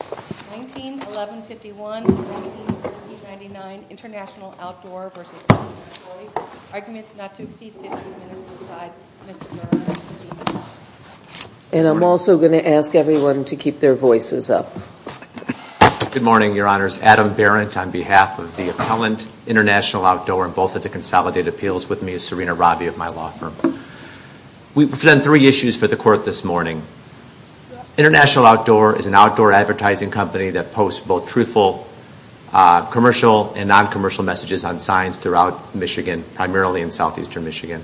19-1151-19-1999 International Outdoor v. City of Troy. Arguments not to exceed 15 minutes beside Ms. DeNora. And I'm also going to ask everyone to keep their voices up. Good morning Your Honors. Adam Barrett on behalf of the Appellant International Outdoor and both of the Consolidated Appeals with me is Serena Robbie of my law firm. We've done three issues for the Court this morning. International Outdoor is an outdoor advertising company that posts both truthful commercial and non-commercial messages on signs throughout Michigan, primarily in southeastern Michigan.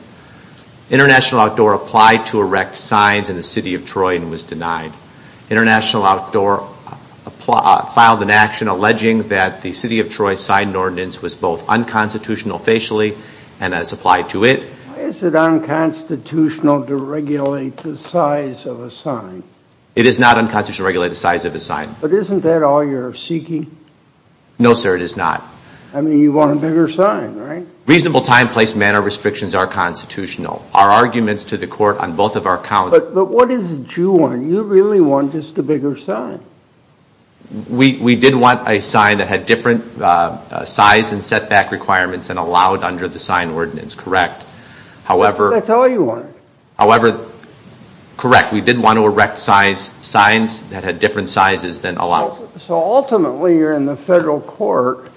International Outdoor applied to erect signs in the City of Troy and was denied. International Outdoor filed an action alleging that the City of Troy's signed ordinance was both unconstitutional facially and as applied to it. Why is it unconstitutional to regulate the size of a sign? It is not unconstitutional to regulate the size of a sign. But isn't that all you're seeking? No sir, it is not. I mean you want a bigger sign, right? Reasonable time, place, manner restrictions are constitutional. Our arguments to the Court on both of our counts... But what is it you want? You really want just a bigger sign. We did want a sign that had different size and setback requirements and allowed under the sign ordinance, correct? However... That's all you wanted. However, correct, we did want to erect signs that had different sizes than allowed. So ultimately you're in the Federal Court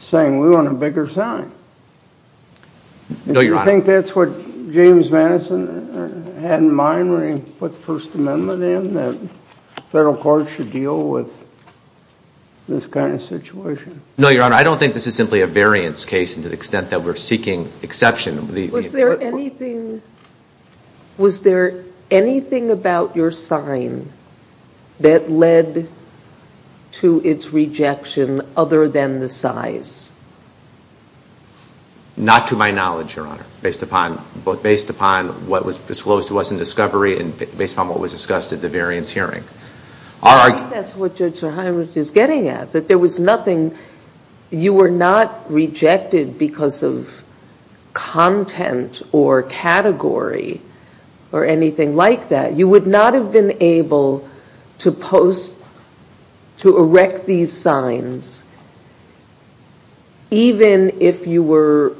saying we want a bigger sign. No, Your Honor. Do you think that's what James Madison had in mind when he put the First Amendment in? That the Federal Court should deal with this kind of situation? No, Your Honor, I don't think this is simply a variance case to the extent that we're seeking exception. Was there anything about your sign that led to its rejection other than the size? Not to my knowledge, Your Honor. Based upon what was disclosed to us in discovery and based upon what was discussed at the variance hearing. I think that's what Judge Sirhan is getting at. That there was nothing... You were not rejected because of content or category or anything like that. You would not have been able to post, to erect these signs even if you were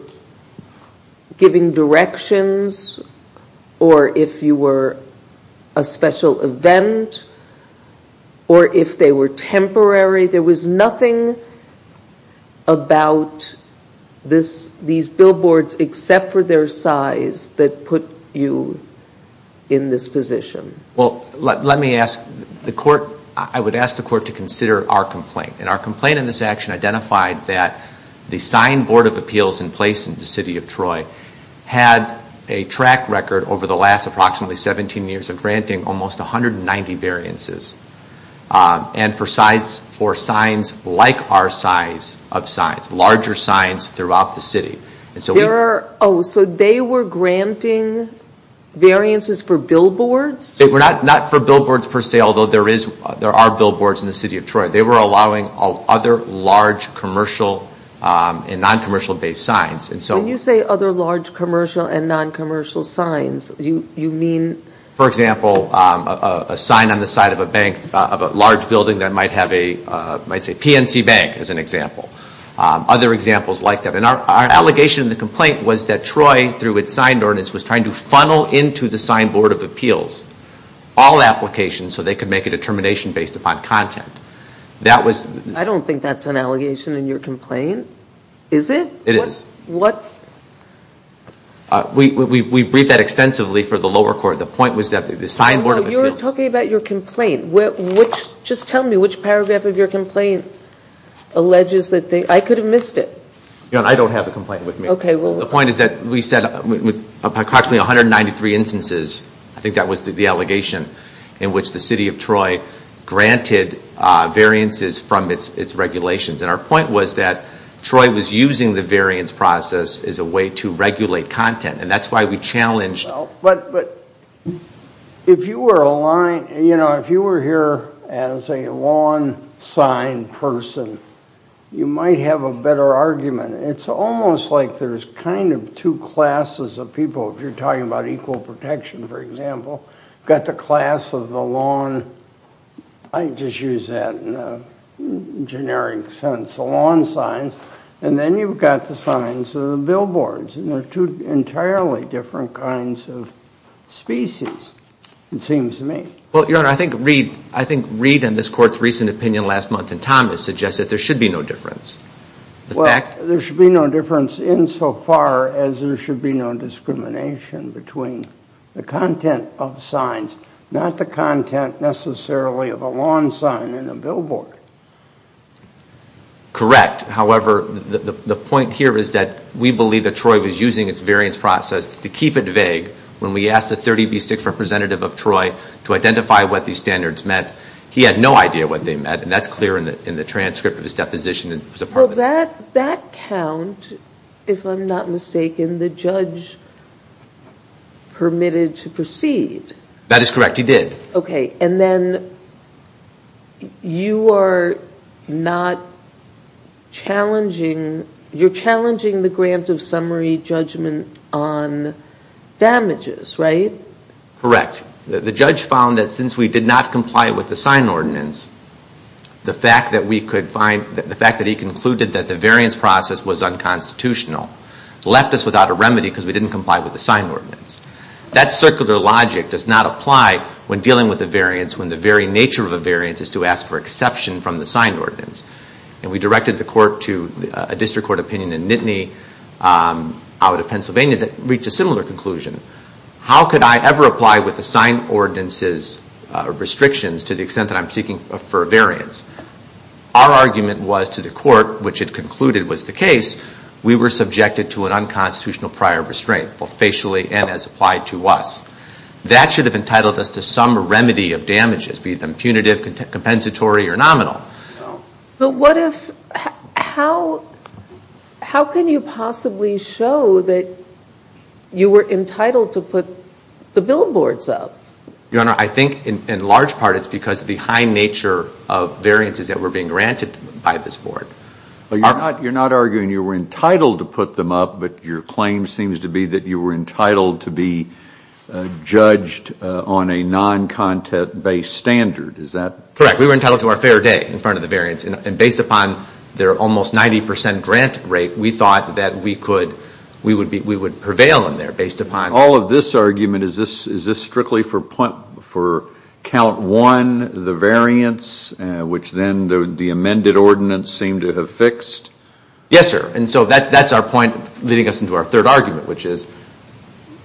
giving directions or if you were a special event or if they were temporary. There was nothing about these billboards except for their size that put you in this position. Well, let me ask the Court, I would ask the Court to consider our complaint. And our complaint in this action identified that the signed Board of Appeals in place in the City of Troy had a track record over the last approximately 17 years of granting almost 190 variances. And for signs like our size of signs, larger signs throughout the city. Oh, so they were granting variances for billboards? Not for billboards per se, although there are billboards in the City of Troy. They were allowing other large commercial and non-commercial based signs. When you say other large commercial and non-commercial signs, you mean... For example, a sign on the side of a bank, of a large building that might have a, might say PNC Bank as an example. Other examples like that. And our allegation in the complaint was that Troy through its signed ordinance was trying to funnel into the signed Board of Appeals all applications so they could make a determination based upon content. That was... I don't think that's an allegation in your complaint, is it? It is. What... We, we, we, we briefed that extensively for the lower court. The point was that the signed Board of Appeals... No, you're talking about your complaint. Which, just tell me which paragraph of your complaint alleges that they, I could have missed it. I don't have a complaint with me. Okay, well... The point is that we said approximately 193 instances, I think that was the allegation, in which the City of Troy granted variances from its regulations. And our point was that Troy was using the variance process as a way to regulate content. And that's why we challenged... But, but, if you were aligned, you know, if you were here as a lawn sign person, you might have a better argument. It's almost like there's kind of two classes of people. If you're talking about equal protection, for example, you've got the class of the lawn, I just use that in a generic sense, the lawn signs, and then you've got the signs of the billboards. And they're two entirely different kinds of species, it seems to me. Well, Your Honor, I think Reid, I think Reid and this Court's recent opinion last month in Thomas suggested there should be no difference. The fact... Well, there should be no difference insofar as there should be no discrimination between the content of signs, not the content necessarily of a lawn sign and a billboard. Correct. However, the point here is that we believe that Troy was using its variance process to keep it vague. When we asked the 30B6 representative of Troy to identify what these standards meant, he had no idea what they meant, and that's clear in the transcript of his deposition. Well, that count, if I'm not mistaken, the judge permitted to proceed. That is correct, he did. Okay, and then you are not challenging the grant of summary judgment on damages, right? Correct. The judge found that since we did not comply with the sign ordinance, the fact that we could find, the fact that he concluded that the variance process was unconstitutional left us without a remedy because we didn't comply with the sign ordinance. That circular logic does not apply when dealing with a variance when the very nature of a variance is to ask for exception from the sign ordinance. And we directed the Court to a district court opinion in Nittany out of Pennsylvania that reached a similar conclusion. How could I ever apply with the sign ordinance's restrictions to the extent that I'm seeking for a variance? Our argument was to the Court, which it concluded was the case, we were subjected to an unconstitutional prior restraint, both facially and as applied to us. That should have entitled us to some remedy of damages, be them punitive, compensatory, or nominal. But what if, how can you possibly show that you were entitled to put the billboards up? Your Honor, I think in large part it's because of the high nature of variances that were being granted by this Board. But you're not arguing you were entitled to put them up, but your claim seems to be that you were entitled to be judged on a non-content-based standard. Is that correct? Correct. We were entitled to our fair day in front of the variance. And based upon their almost 90 percent grant rate, we thought that we could, we would prevail in there based upon... All of this argument, is this strictly for count one, the variance, which then the amended ordinance seemed to have fixed? Yes, sir. And so that's our point leading us into our third argument, which is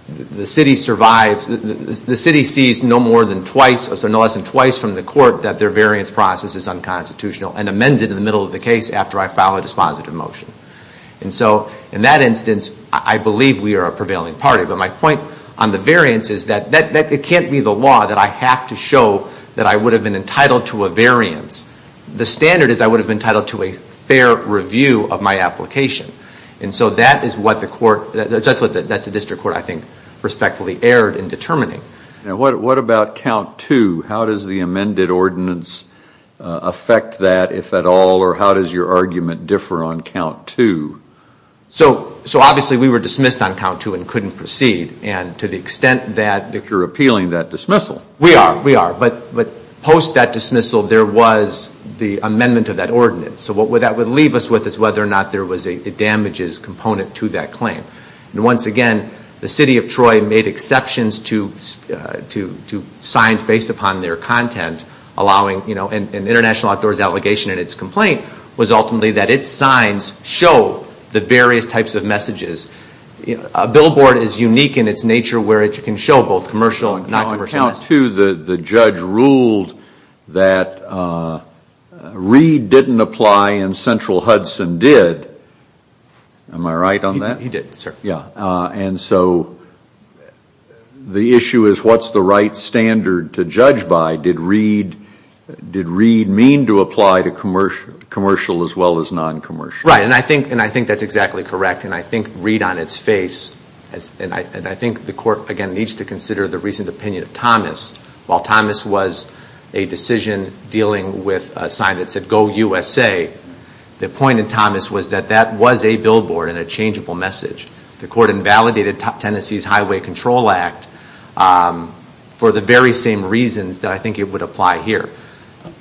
the City survives, the City sees no more than twice, no less than twice from the Court that their variance process is unconstitutional and amends it in the middle of the case after I file a dispositive motion. And so in that instance, I believe we are a prevailing party. But my point on the variance is that it can't be the law that I have to show that I would have been entitled to a variance. The standard is I would have been entitled to a fair review of my application. And so that is what the District Court, I think, respectfully erred in determining. What about count two? How does the amended ordinance affect that, if your argument differ on count two? So obviously we were dismissed on count two and couldn't proceed. And to the extent that... You're appealing that dismissal. We are, we are. But post that dismissal, there was the amendment of that ordinance. So what that would leave us with is whether or not there was a damages component to that claim. And once again, the City of Troy made exceptions to signs based upon their content, allowing, you know, an international outdoors allegation in its complaint was ultimately that its signs show the various types of messages. A billboard is unique in its nature where it can show both commercial and non-commercial messages. On count two, the judge ruled that Reed didn't apply and Central Hudson did. Am I right on that? He did, sir. Yeah. And so the issue is what's the right standard to judge by? Did Reed, did Reed mean to apply to commercial as well as non-commercial? Right. And I think, and I think that's exactly correct. And I think Reed on its face, and I think the Court, again, needs to consider the recent opinion of Thomas. While Thomas was a decision dealing with a sign that said, Go USA, the point of Thomas was that that was a billboard and a changeable message. The Court invalidated Tennessee's Highway Control Act for the very same reasons that I think it would apply here.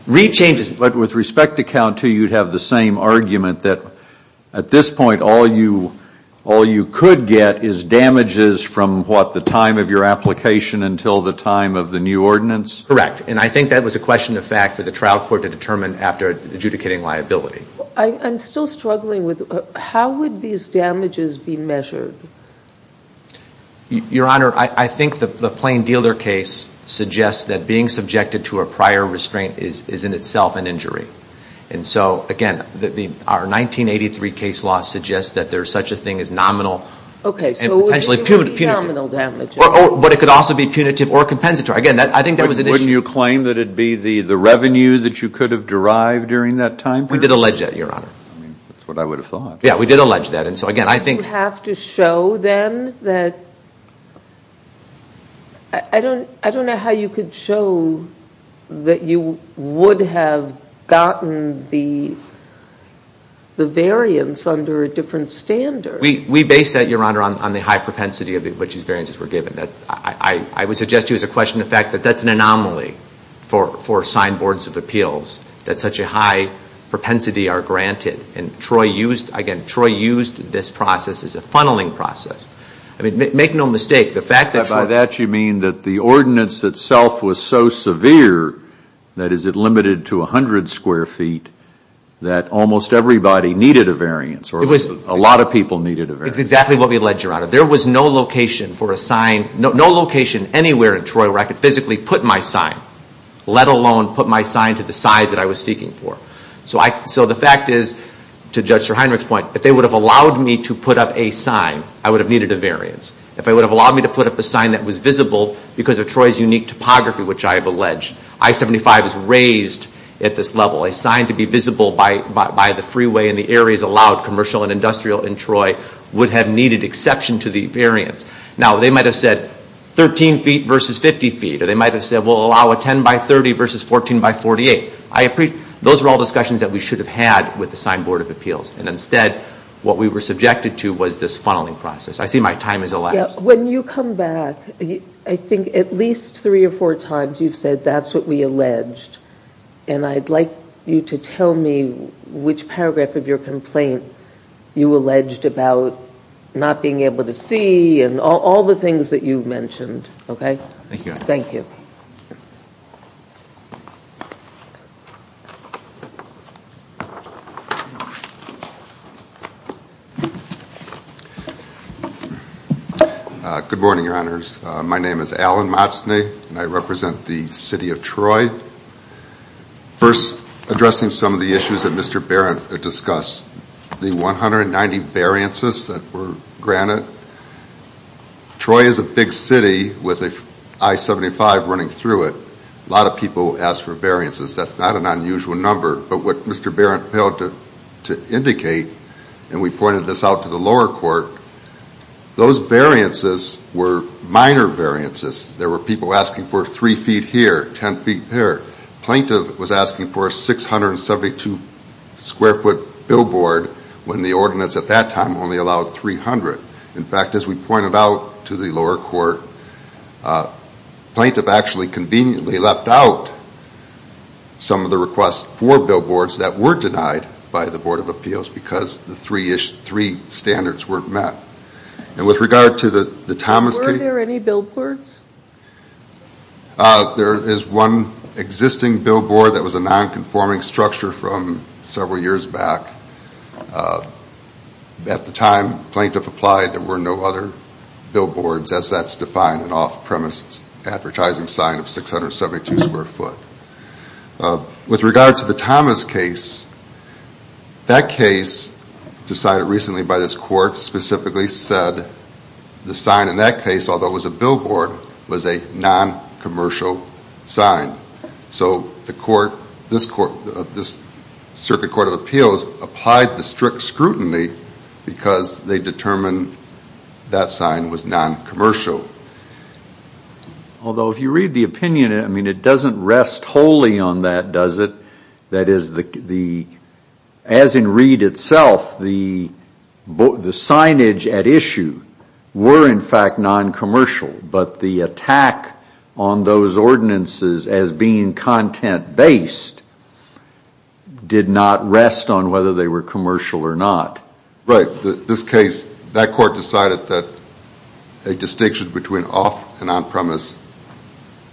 Reed changes. But with respect to count two, you'd have the same argument that at this point all you, all you could get is damages from what, the time of your application until the time of the new ordinance? Correct. And I think that was a question of fact for the trial court to determine after adjudicating liability. I'm still struggling with how would these damages be measured? Your Honor, I think the Plain Dealer case suggests that being subjected to a prior restraint is in itself an injury. And so, again, our 1983 case law suggests that there's such a thing as nominal and potentially punitive. Okay. So it would be nominal damages. But it could also be punitive or compensatory. Again, I think that was an issue. But wouldn't you claim that it'd be the revenue that you could have derived during that time period? We did allege that, Your Honor. I mean, that's what I would have thought. Yeah, we did allege that. And so, again, I think... Wouldn't you have to show then that... I don't know how you could show that you would have gotten the variance under a different standard. We base that, Your Honor, on the high propensity of which these variances were given. I would suggest to you as a question of fact that that's an anomaly for signed boards of appeals, that such a high propensity are granted. And again, Troy used this process as a funneling process. I mean, make no mistake, the fact that Troy... By that you mean that the ordinance itself was so severe, that is it limited to 100 square feet, that almost everybody needed a variance or a lot of people needed a variance. It was exactly what we alleged, Your Honor. There was no location for a sign, no location anywhere in Troy where I could physically put my sign, let alone put my sign to the size that I was seeking for. So the fact is, to Judge Streheinrich's point, if they would have allowed me to put up a sign, I would have needed a variance. If they would have allowed me to put up a sign that was visible because of Troy's unique topography, which I have alleged, I-75 is raised at this level. A sign to be visible by the freeway in the areas allowed commercial and industrial in Troy would have needed exception to the variance. Now, they might have said 13 feet versus 50 feet, or they might have said, well, allow a 10 by 30 versus 14 by 48. Those were all of the things that we said in the board of appeals. Instead, what we were subjected to was this funneling process. I see my time has elapsed. When you come back, I think at least three or four times you've said that's what we alleged, and I'd like you to tell me which paragraph of your complaint you alleged about not being able to see and all the things that you mentioned, okay? Thank you, Your Honor. Good morning, Your Honors. My name is Alan Motzni, and I represent the City of Troy. First, addressing some of the issues that Mr. Barrett discussed, the 190 variances that were granted. Troy is a big city with an I-75 running through it. A lot of people asked for variances. That's not an unusual number, but what Mr. Barrett failed to indicate, and we pointed this out to the lower court, those variances were minor variances. There were people asking for three feet here, 10 feet there. Plaintiff was asking for a 672 square foot billboard when the ordinance at that time only allowed 300. In fact, as we pointed out to the lower court, plaintiff actually conveniently left out some of the requests for billboards that were denied by the Board of Appeals because the three standards weren't met. Were there any billboards? There is one existing billboard that was a non-conforming structure from several years back. At the time plaintiff applied, there were no other billboards as that's defined an off-premise advertising sign of 672 square foot. With regard to the Thomas case, that case decided recently by this court specifically said the sign in that case, although it was a billboard, was a non-commercial sign. So the court, this circuit court of appeals applied the strict scrutiny because they determined that sign was non-commercial. Although if you read the opinion, I mean, it doesn't rest wholly on that, does it? That is, as in Reed itself, the signage at issue were in fact non-commercial, but the attack on those ordinances as being content-based did not rest on whether they were commercial or not. Right. This case, that court decided that a distinction between off and on-premise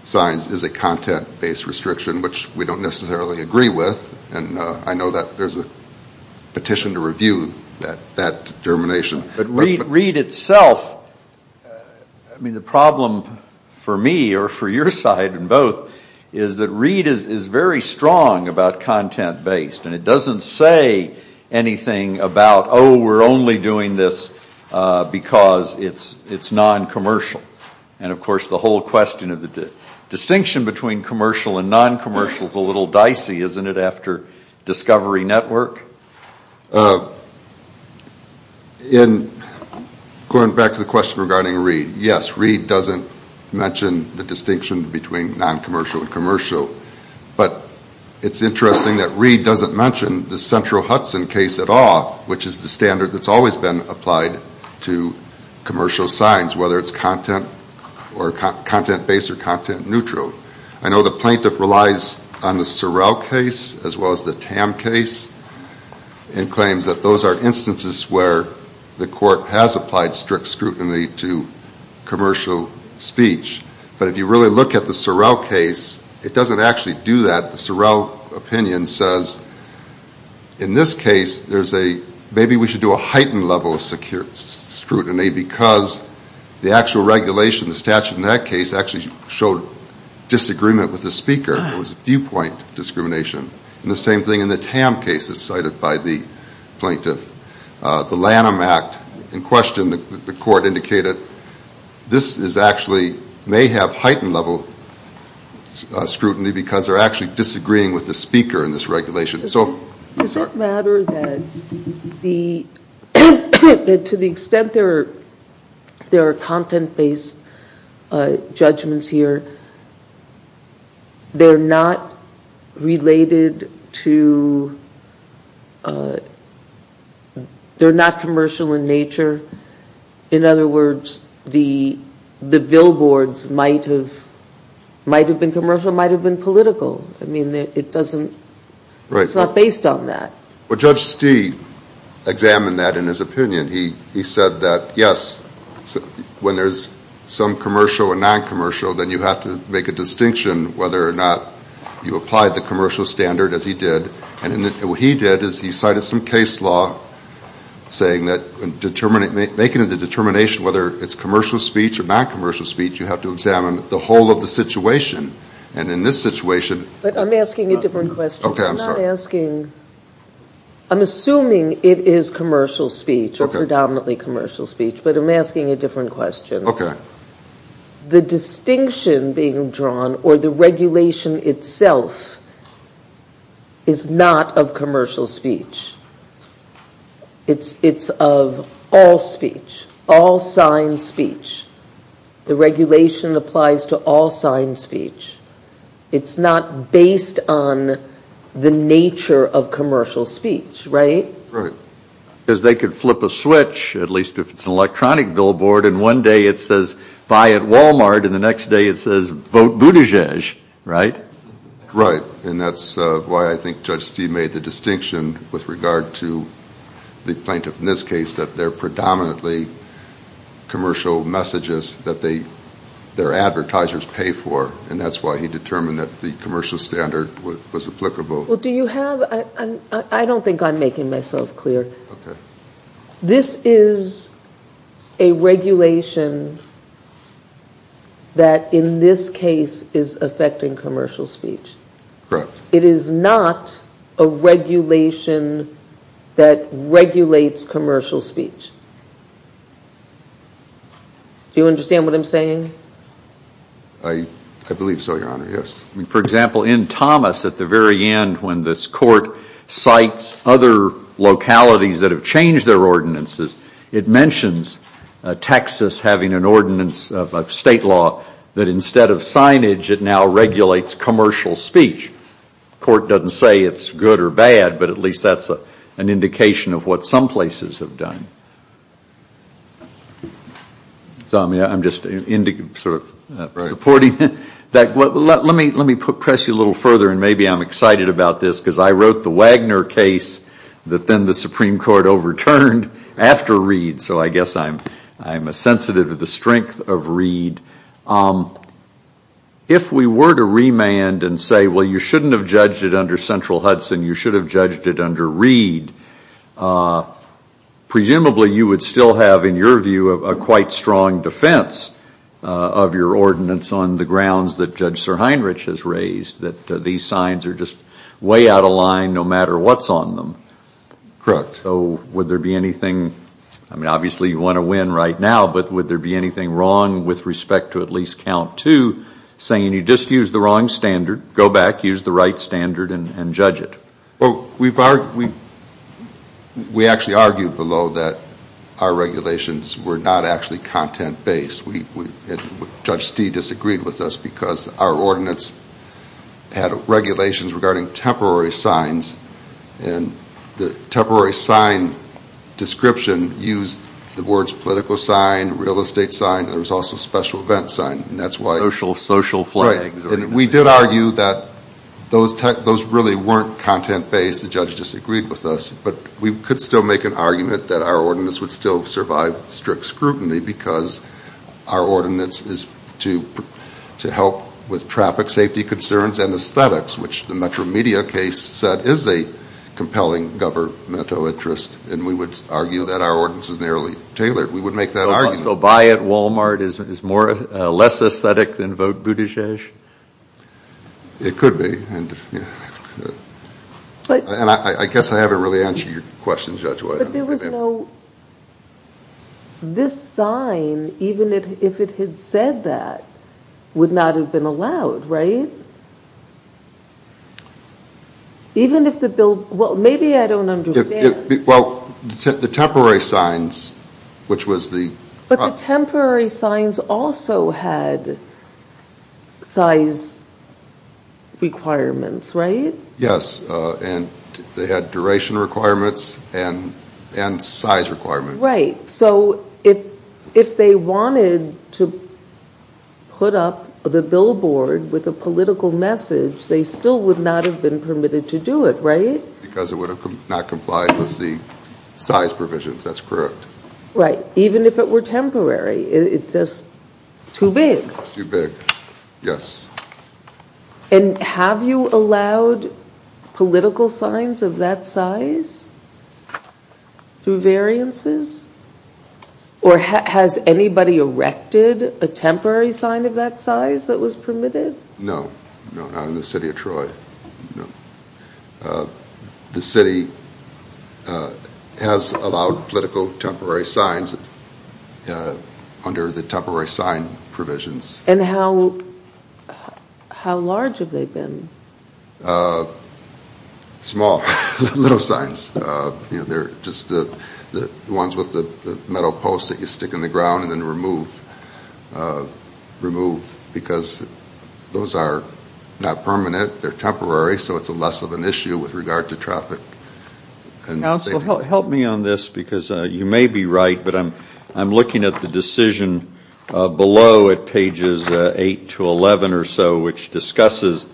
signs is a content-based restriction, which we don't necessarily agree with. And I know that there's a petition to review that determination. But Reed itself, I mean, the problem for me or for your side in both is that Reed is very strong about content-based. And it doesn't say anything about, oh, we're only doing this because it's non-commercial. And, of course, the whole question of the distinction between commercial and non-commercial is a little dicey, isn't it, after Discovery Network? Going back to the question regarding Reed, yes, Reed doesn't mention the distinction between non-commercial and commercial. But it's interesting that Reed doesn't mention the central Hudson case at all, which is the standard that's always been applied to commercial signs, whether it's content-based or content-neutral. I know the plaintiff relies on the Sorrell case as well as the Tam case and claims that those are instances where the court has applied strict scrutiny to commercial speech. But if you really look at the Sorrell case, it doesn't actually do that. The Sorrell opinion says, in this case, there's a, maybe we should do a heightened level of scrutiny because the actual regulation, the statute in that case, actually showed disagreement with the speaker. It was viewpoint discrimination. And the same thing in the Tam case that's cited by the plaintiff. The Lanham Act in question, the court indicated, this is actually, may have heightened level scrutiny because they're actually disagreeing with the speaker in this regulation. Does it matter that to the extent there are content-based judgments here, they're not related to, they're not commercial in nature? In other words, the billboards might have been commercial, might have been political. I mean, it doesn't, it's not based on that. Well, Judge Stee examined that in his opinion. He said that, yes, when there's some commercial and non-commercial, then you have to make a distinction whether or not you applied the commercial standard as he did. And what he did is he cited some case law saying that, making the determination whether it's commercial speech or non-commercial speech, you have to examine the whole of the situation. And in this situation- But I'm asking a different question. Okay, I'm sorry. I'm not asking, I'm assuming it is commercial speech or predominantly commercial speech, but I'm asking a different question. Okay. The distinction being drawn or the regulation itself is not of commercial speech. It's of all speech, all signed speech. The regulation applies to all signed speech. It's not based on the nature of commercial speech, right? Right. Because they could flip a switch, at least if it's an electronic billboard, and one day it says, buy at Walmart, and the next day it says, vote Buttigieg, right? Right. And that's why I think Judge Stee made the distinction with regard to the plaintiff in this case that they're predominantly commercial messages that their advertisers pay for, and that's why he determined that the commercial standard was applicable. Well, do you have, I don't think I'm making myself clear. Okay. This is a regulation that in this case is affecting commercial speech. Correct. It is not a regulation that regulates commercial speech. Do you understand what I'm saying? I believe so, Your Honor, yes. For example, in Thomas at the very end when this court cites other localities that have changed their ordinances, it mentions Texas having an ordinance of state law that instead of signage, it now regulates commercial speech. Court doesn't say it's good or bad, but at least that's an indication of what some places have done. I'm just sort of supporting that. Let me press you a little further, and maybe I'm excited about this, because I wrote the Wagner case that then the Supreme Court overturned after Reid, so I guess I'm sensitive to the If we were to remand and say, well, you shouldn't have judged it under Central Hudson, you should have judged it under Reid, presumably you would still have, in your view, a quite strong defense of your ordinance on the grounds that Judge Sir Heinrich has raised, that these signs are just way out of line no matter what's on them. Correct. So would there be anything, I mean, obviously you want to win right now, but would there be anything wrong with respect to at least count two saying you just used the wrong standard, go back, use the right standard, and judge it? We actually argued below that our regulations were not actually content-based. Judge Stee disagreed with us because our ordinance had regulations regarding temporary signs, and the temporary sign description used the words political sign, real estate sign, and there was also special event sign, and that's why Social flags Right, and we did argue that those really weren't content-based, the judge disagreed with us, but we could still make an argument that our ordinance would still survive strict scrutiny because our ordinance is to help with traffic safety concerns and aesthetics, which the Metro Media case said is a compelling governmental interest, and we would argue that our ordinance is nearly tailored. We would make that argument. So buy at Walmart is less aesthetic than vote Buttigieg? It could be, and I guess I haven't really answered your question, Judge White. But there was no, this sign, even if it had said that, would not have been allowed, right? Even if the bill, well maybe I don't understand Well, the temporary signs, which was the But the temporary signs also had size requirements, right? Yes, and they had duration requirements and size requirements Right, so if they wanted to put up the billboard with a political message, they still would not have been permitted to do it, right? Because it would have not complied with the size provisions, that's correct Right, even if it were temporary, it's just too big It's too big, yes And have you allowed political signs of that size through variances? Or has anybody erected a temporary sign of that size that was permitted? No, not in the city of Troy. The city has allowed political temporary signs under the temporary sign provisions And how large have they been? Small, little signs, just the ones with the metal posts that you stick in the ground and then remove, because those are not permanent, they're temporary, so it's less of an issue with regard to traffic Counsel, help me on this, because you may be right, but I'm looking at the decision below at pages 8 to 11 or so, which discusses,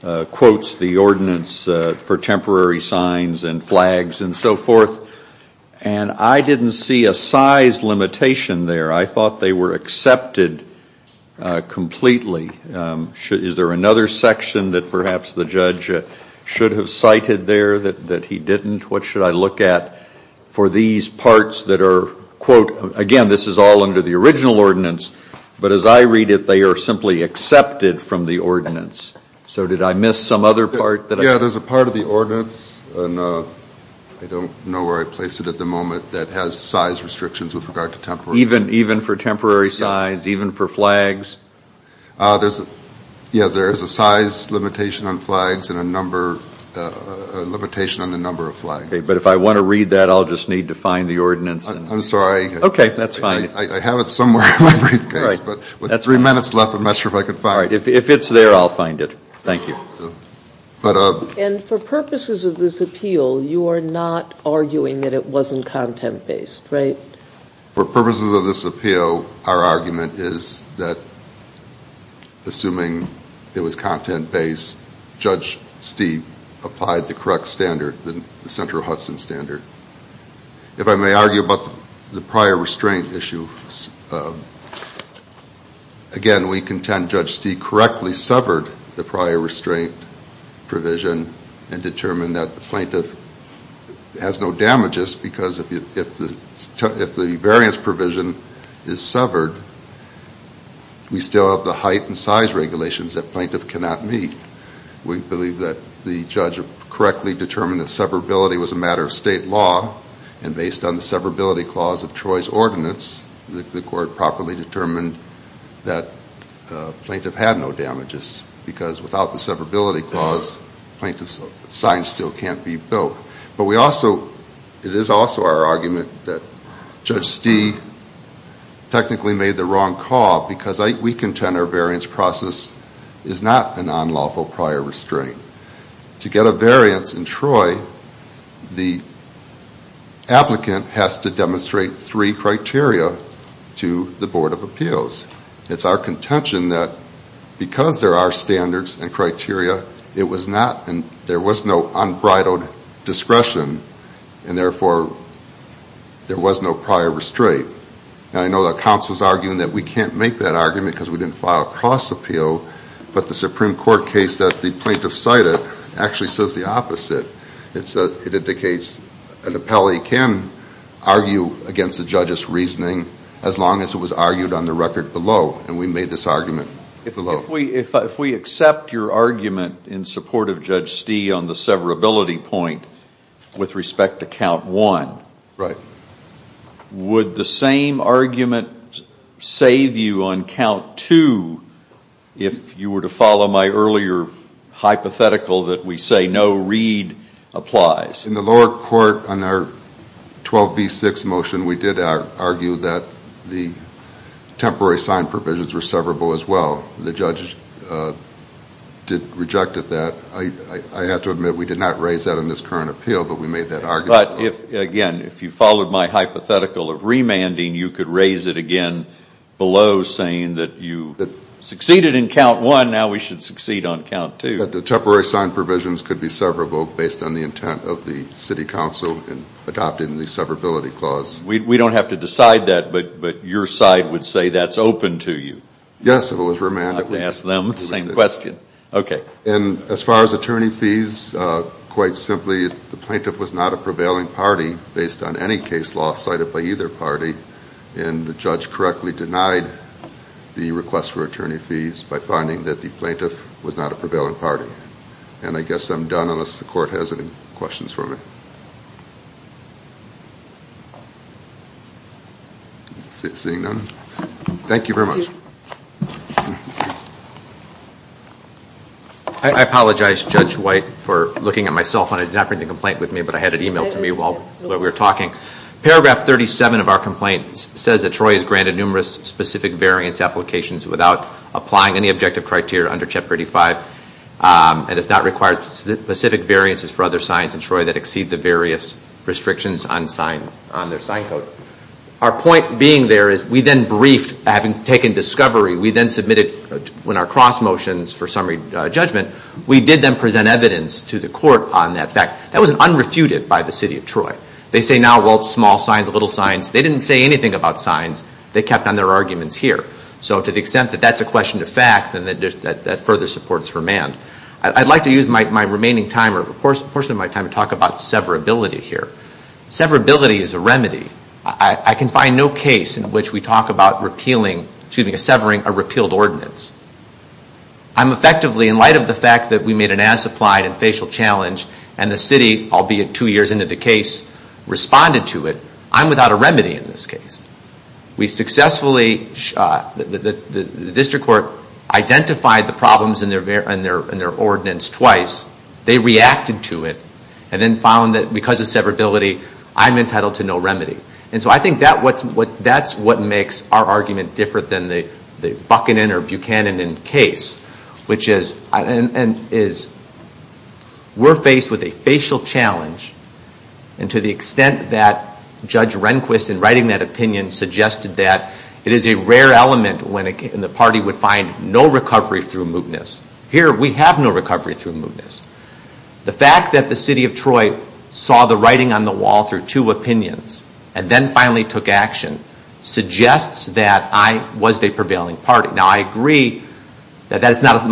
quotes the ordinance for temporary signs and flags and so forth, and I didn't see a size limitation there, I thought they were accepted completely. Is there another section that perhaps the judge should have cited there that he didn't? What should I look at for these parts that are, quote, again this is all under the original ordinance, but as I read it, they are simply accepted from the ordinance. So did I miss some other part? Yeah, there's a part of the ordinance, and I don't know where I placed it at the moment, that has size restrictions with regard to temporary signs. Even for temporary signs, even for flags? Yeah, there is a size limitation on flags and a limitation on the number of flags. But if I want to read that, I'll just need to find the ordinance. I'm sorry. Okay, that's fine. I have it somewhere in my briefcase, but with three minutes left, I'm not sure if I can find it. If it's there, I'll find it. Thank you. And for purposes of this appeal, you are not arguing that it wasn't content-based, right? For purposes of this appeal, our argument is that assuming it was content-based, Judge Steve correctly severed the prior restraint provision and determined that the plaintiff has no damages, because if the variance provision is severed, we still have the height and size regulations that plaintiff cannot meet. We believe that the judge correctly determined that severability was a matter of state law, and based on the severability clause of Troy's ordinance, the court properly determined that the plaintiff had no damages, because without the severability clause, plaintiff's sign still can't be built. But we also, it is also our argument that Judge Stee technically made the wrong call, because we contend our variance process is not a non-lawful prior restraint. To get a variance in Troy, the applicant has to demonstrate three criteria to the Board of Appeals. It's our contention that because there are standards and criteria, there was no unbridled discretion and therefore there was no prior restraint. I know that counsel is arguing that we can't make that argument because we didn't file cross appeal, but the Supreme Court case that the plaintiff cited actually says the opposite. It indicates an appellee can argue against the judge's reasoning as long as it was argued on the record below, and we made this argument below. If we accept your argument in support of Judge Stee on the severability point with respect to count one, would the same argument save you on count two if you were to follow my earlier hypothetical that we say no read applies? In the lower court on our 12B6 motion, we did argue that the temporary sign provisions were severable as well. The judge did reject that. I have to admit we did not raise that in this current appeal, but we made that argument. But again, if you followed my hypothetical of remanding, you could raise it again below saying that you succeeded in count one, now we should succeed on count two. The temporary sign provisions could be severable based on the intent of the City Council in adopting the severability clause. We don't have to decide that, but your side would say that's open to you? Yes, if it was remanded. I'd have to ask them the same question. As far as attorney fees, quite simply, the plaintiff was not a prevailing party based on any case law cited by either party, and the judge correctly denied the request for attorney fees by finding that the plaintiff was not a prevailing party. I guess I'm done unless the court has any questions for me. Thank you very much. I apologize, Judge White, for looking at myself. I did not bring the complaint with me, but I had it emailed to me while we were talking. Paragraph 37 of our complaint says that Troy has granted numerous specific variance applications without applying any objective criteria under Chapter 35, and does not require specific variances for other signs in Troy that exceed the various restrictions on their sign code. Our point being there is we then briefed, having taken discovery, we then submitted when our cross motions for summary judgment, we did then present evidence to the court on that fact. That was unrefuted by the City of Troy. They say now, well, it's small signs, little signs. They didn't say anything about signs. They kept on their arguments here. So to the extent that that's a question of fact, then that further supports remand. I'd like to use my remaining time or a portion of my time to talk about severability here. Severability is a remedy. I can find no case in which we talk about repealing, excuse me, severing a repealed ordinance. I'm effectively, in light of the fact that we made an as-applied and facial challenge and the city, albeit two years into the case, responded to it. I'm without a remedy in this case. We successfully, the district court identified the problems in their ordinance twice. They reacted to it and then found that because of severability, I'm entitled to no remedy. And so I think that's what makes our argument different than the Buchanan or Buchanan case, which is we're faced with a facial challenge and to the extent that Judge Rehnquist in writing that opinion suggested that it is a rare element when the party would find no recovery through mootness. Here we have no recovery through mootness. The fact that the city of Troy saw the writing on the wall through two opinions and then finally took action suggests that I was a prevailing party. Now I agree that that's not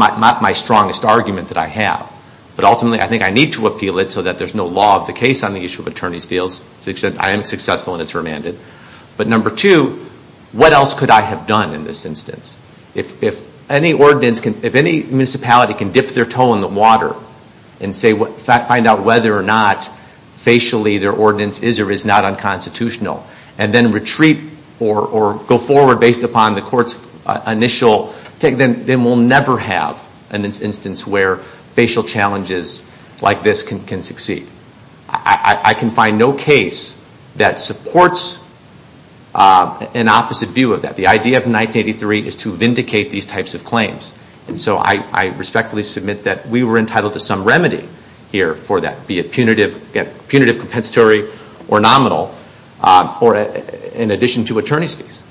my strongest argument that I have, but ultimately I think I need to appeal it so that there's no law of the case on the issue of attorney's fields to the extent I am successful and it's remanded. But number two, what else could I have done in this instance? If any municipality can dip their toe in the water and find out whether or not facially their ordinance is or is not unconstitutional and then retreat or go forward based upon the court's initial take, then we'll never have an instance where facial challenges like this can succeed. I can find no case that supports an opposite view of that. The idea of 1983 is to vindicate these types of claims. So I respectfully submit that we were entitled to some remedy here for that, be it punitive compensatory or nominal or in addition to attorney's fees.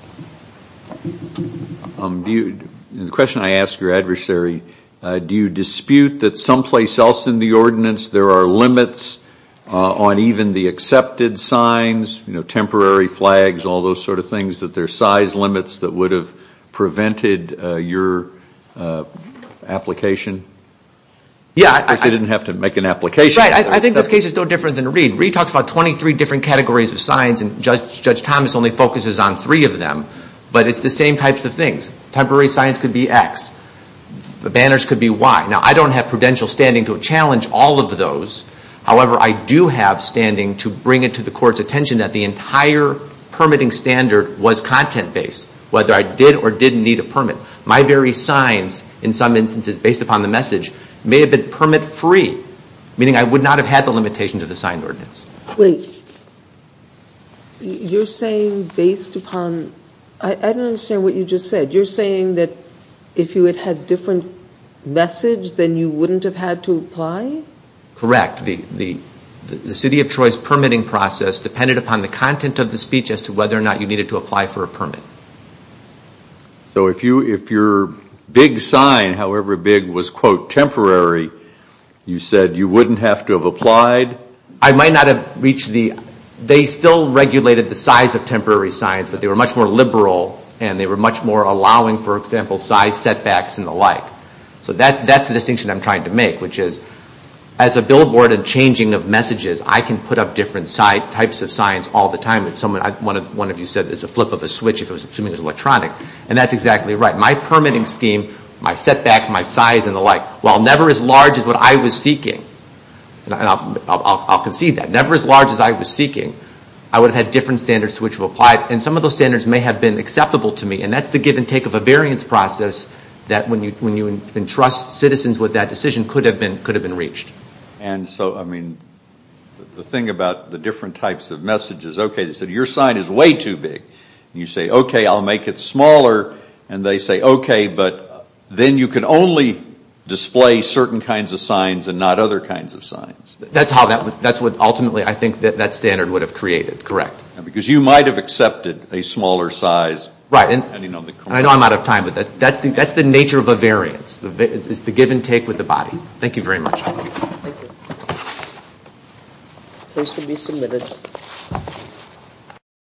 The question I ask your adversary, do you dispute that someplace else in the ordinance there are limits on even the accepted signs, temporary flags, all those sort of things, that there are size limits that would have prevented your application? Because they didn't have to make an application. Right. I think this case is no different than Reed. Reed talks about 23 different categories of signs and Judge Thomas only focuses on three of them. But it's the same types of things. Temporary signs could be X. The banners could be Y. Now, I don't have prudential standing to challenge all of those. However, I do have standing to bring it to the court's attention that the entire permitting standard was content-based, whether I did or didn't need a permit. My very signs, in some instances, based upon the message, may have been permit-free, meaning I would not have had the limitations of the signed ordinance. Wait. You're saying based upon, I don't understand what you just said. You're saying that if you had had different message, then you wouldn't have had to apply? Correct. The City of Troy's permitting process depended upon the content of the speech as to whether or not you needed to apply for a permit. So if your big sign, however big, was, quote, temporary, you said you wouldn't have to have applied? I might not have reached the... They still regulated the size of temporary signs, but they were much more liberal and they were much more allowing, for example, size setbacks and the like. So that's the distinction I'm trying to make, which is, as a billboard and changing of messages, I can put up different types of signs all the time. One of you said it's a flip of a switch if it was electronic, and that's exactly right. My permitting scheme, my setback, my size, and the like, while never as large as what I was seeking, and I'll concede that, never as large as I was seeking, I would have had different standards to which to apply, and some of those standards may have been acceptable to me, and that's the give and take of a variance process that, when you entrust citizens with that decision, could have been reached. And so, I mean, the thing about the different types of messages, okay, they said your sign is way too big, and you say, okay, I'll make it smaller, and they say, okay, but then you can only display certain kinds of signs and not other kinds of signs. That's how that would... That's what ultimately I think that standard would have created, correct. Because you might have accepted a smaller size. Right. And I know I'm out of time, but that's the nature of a variance. It's the give and take with the body. Thank you very much. Thank you. This can be submitted.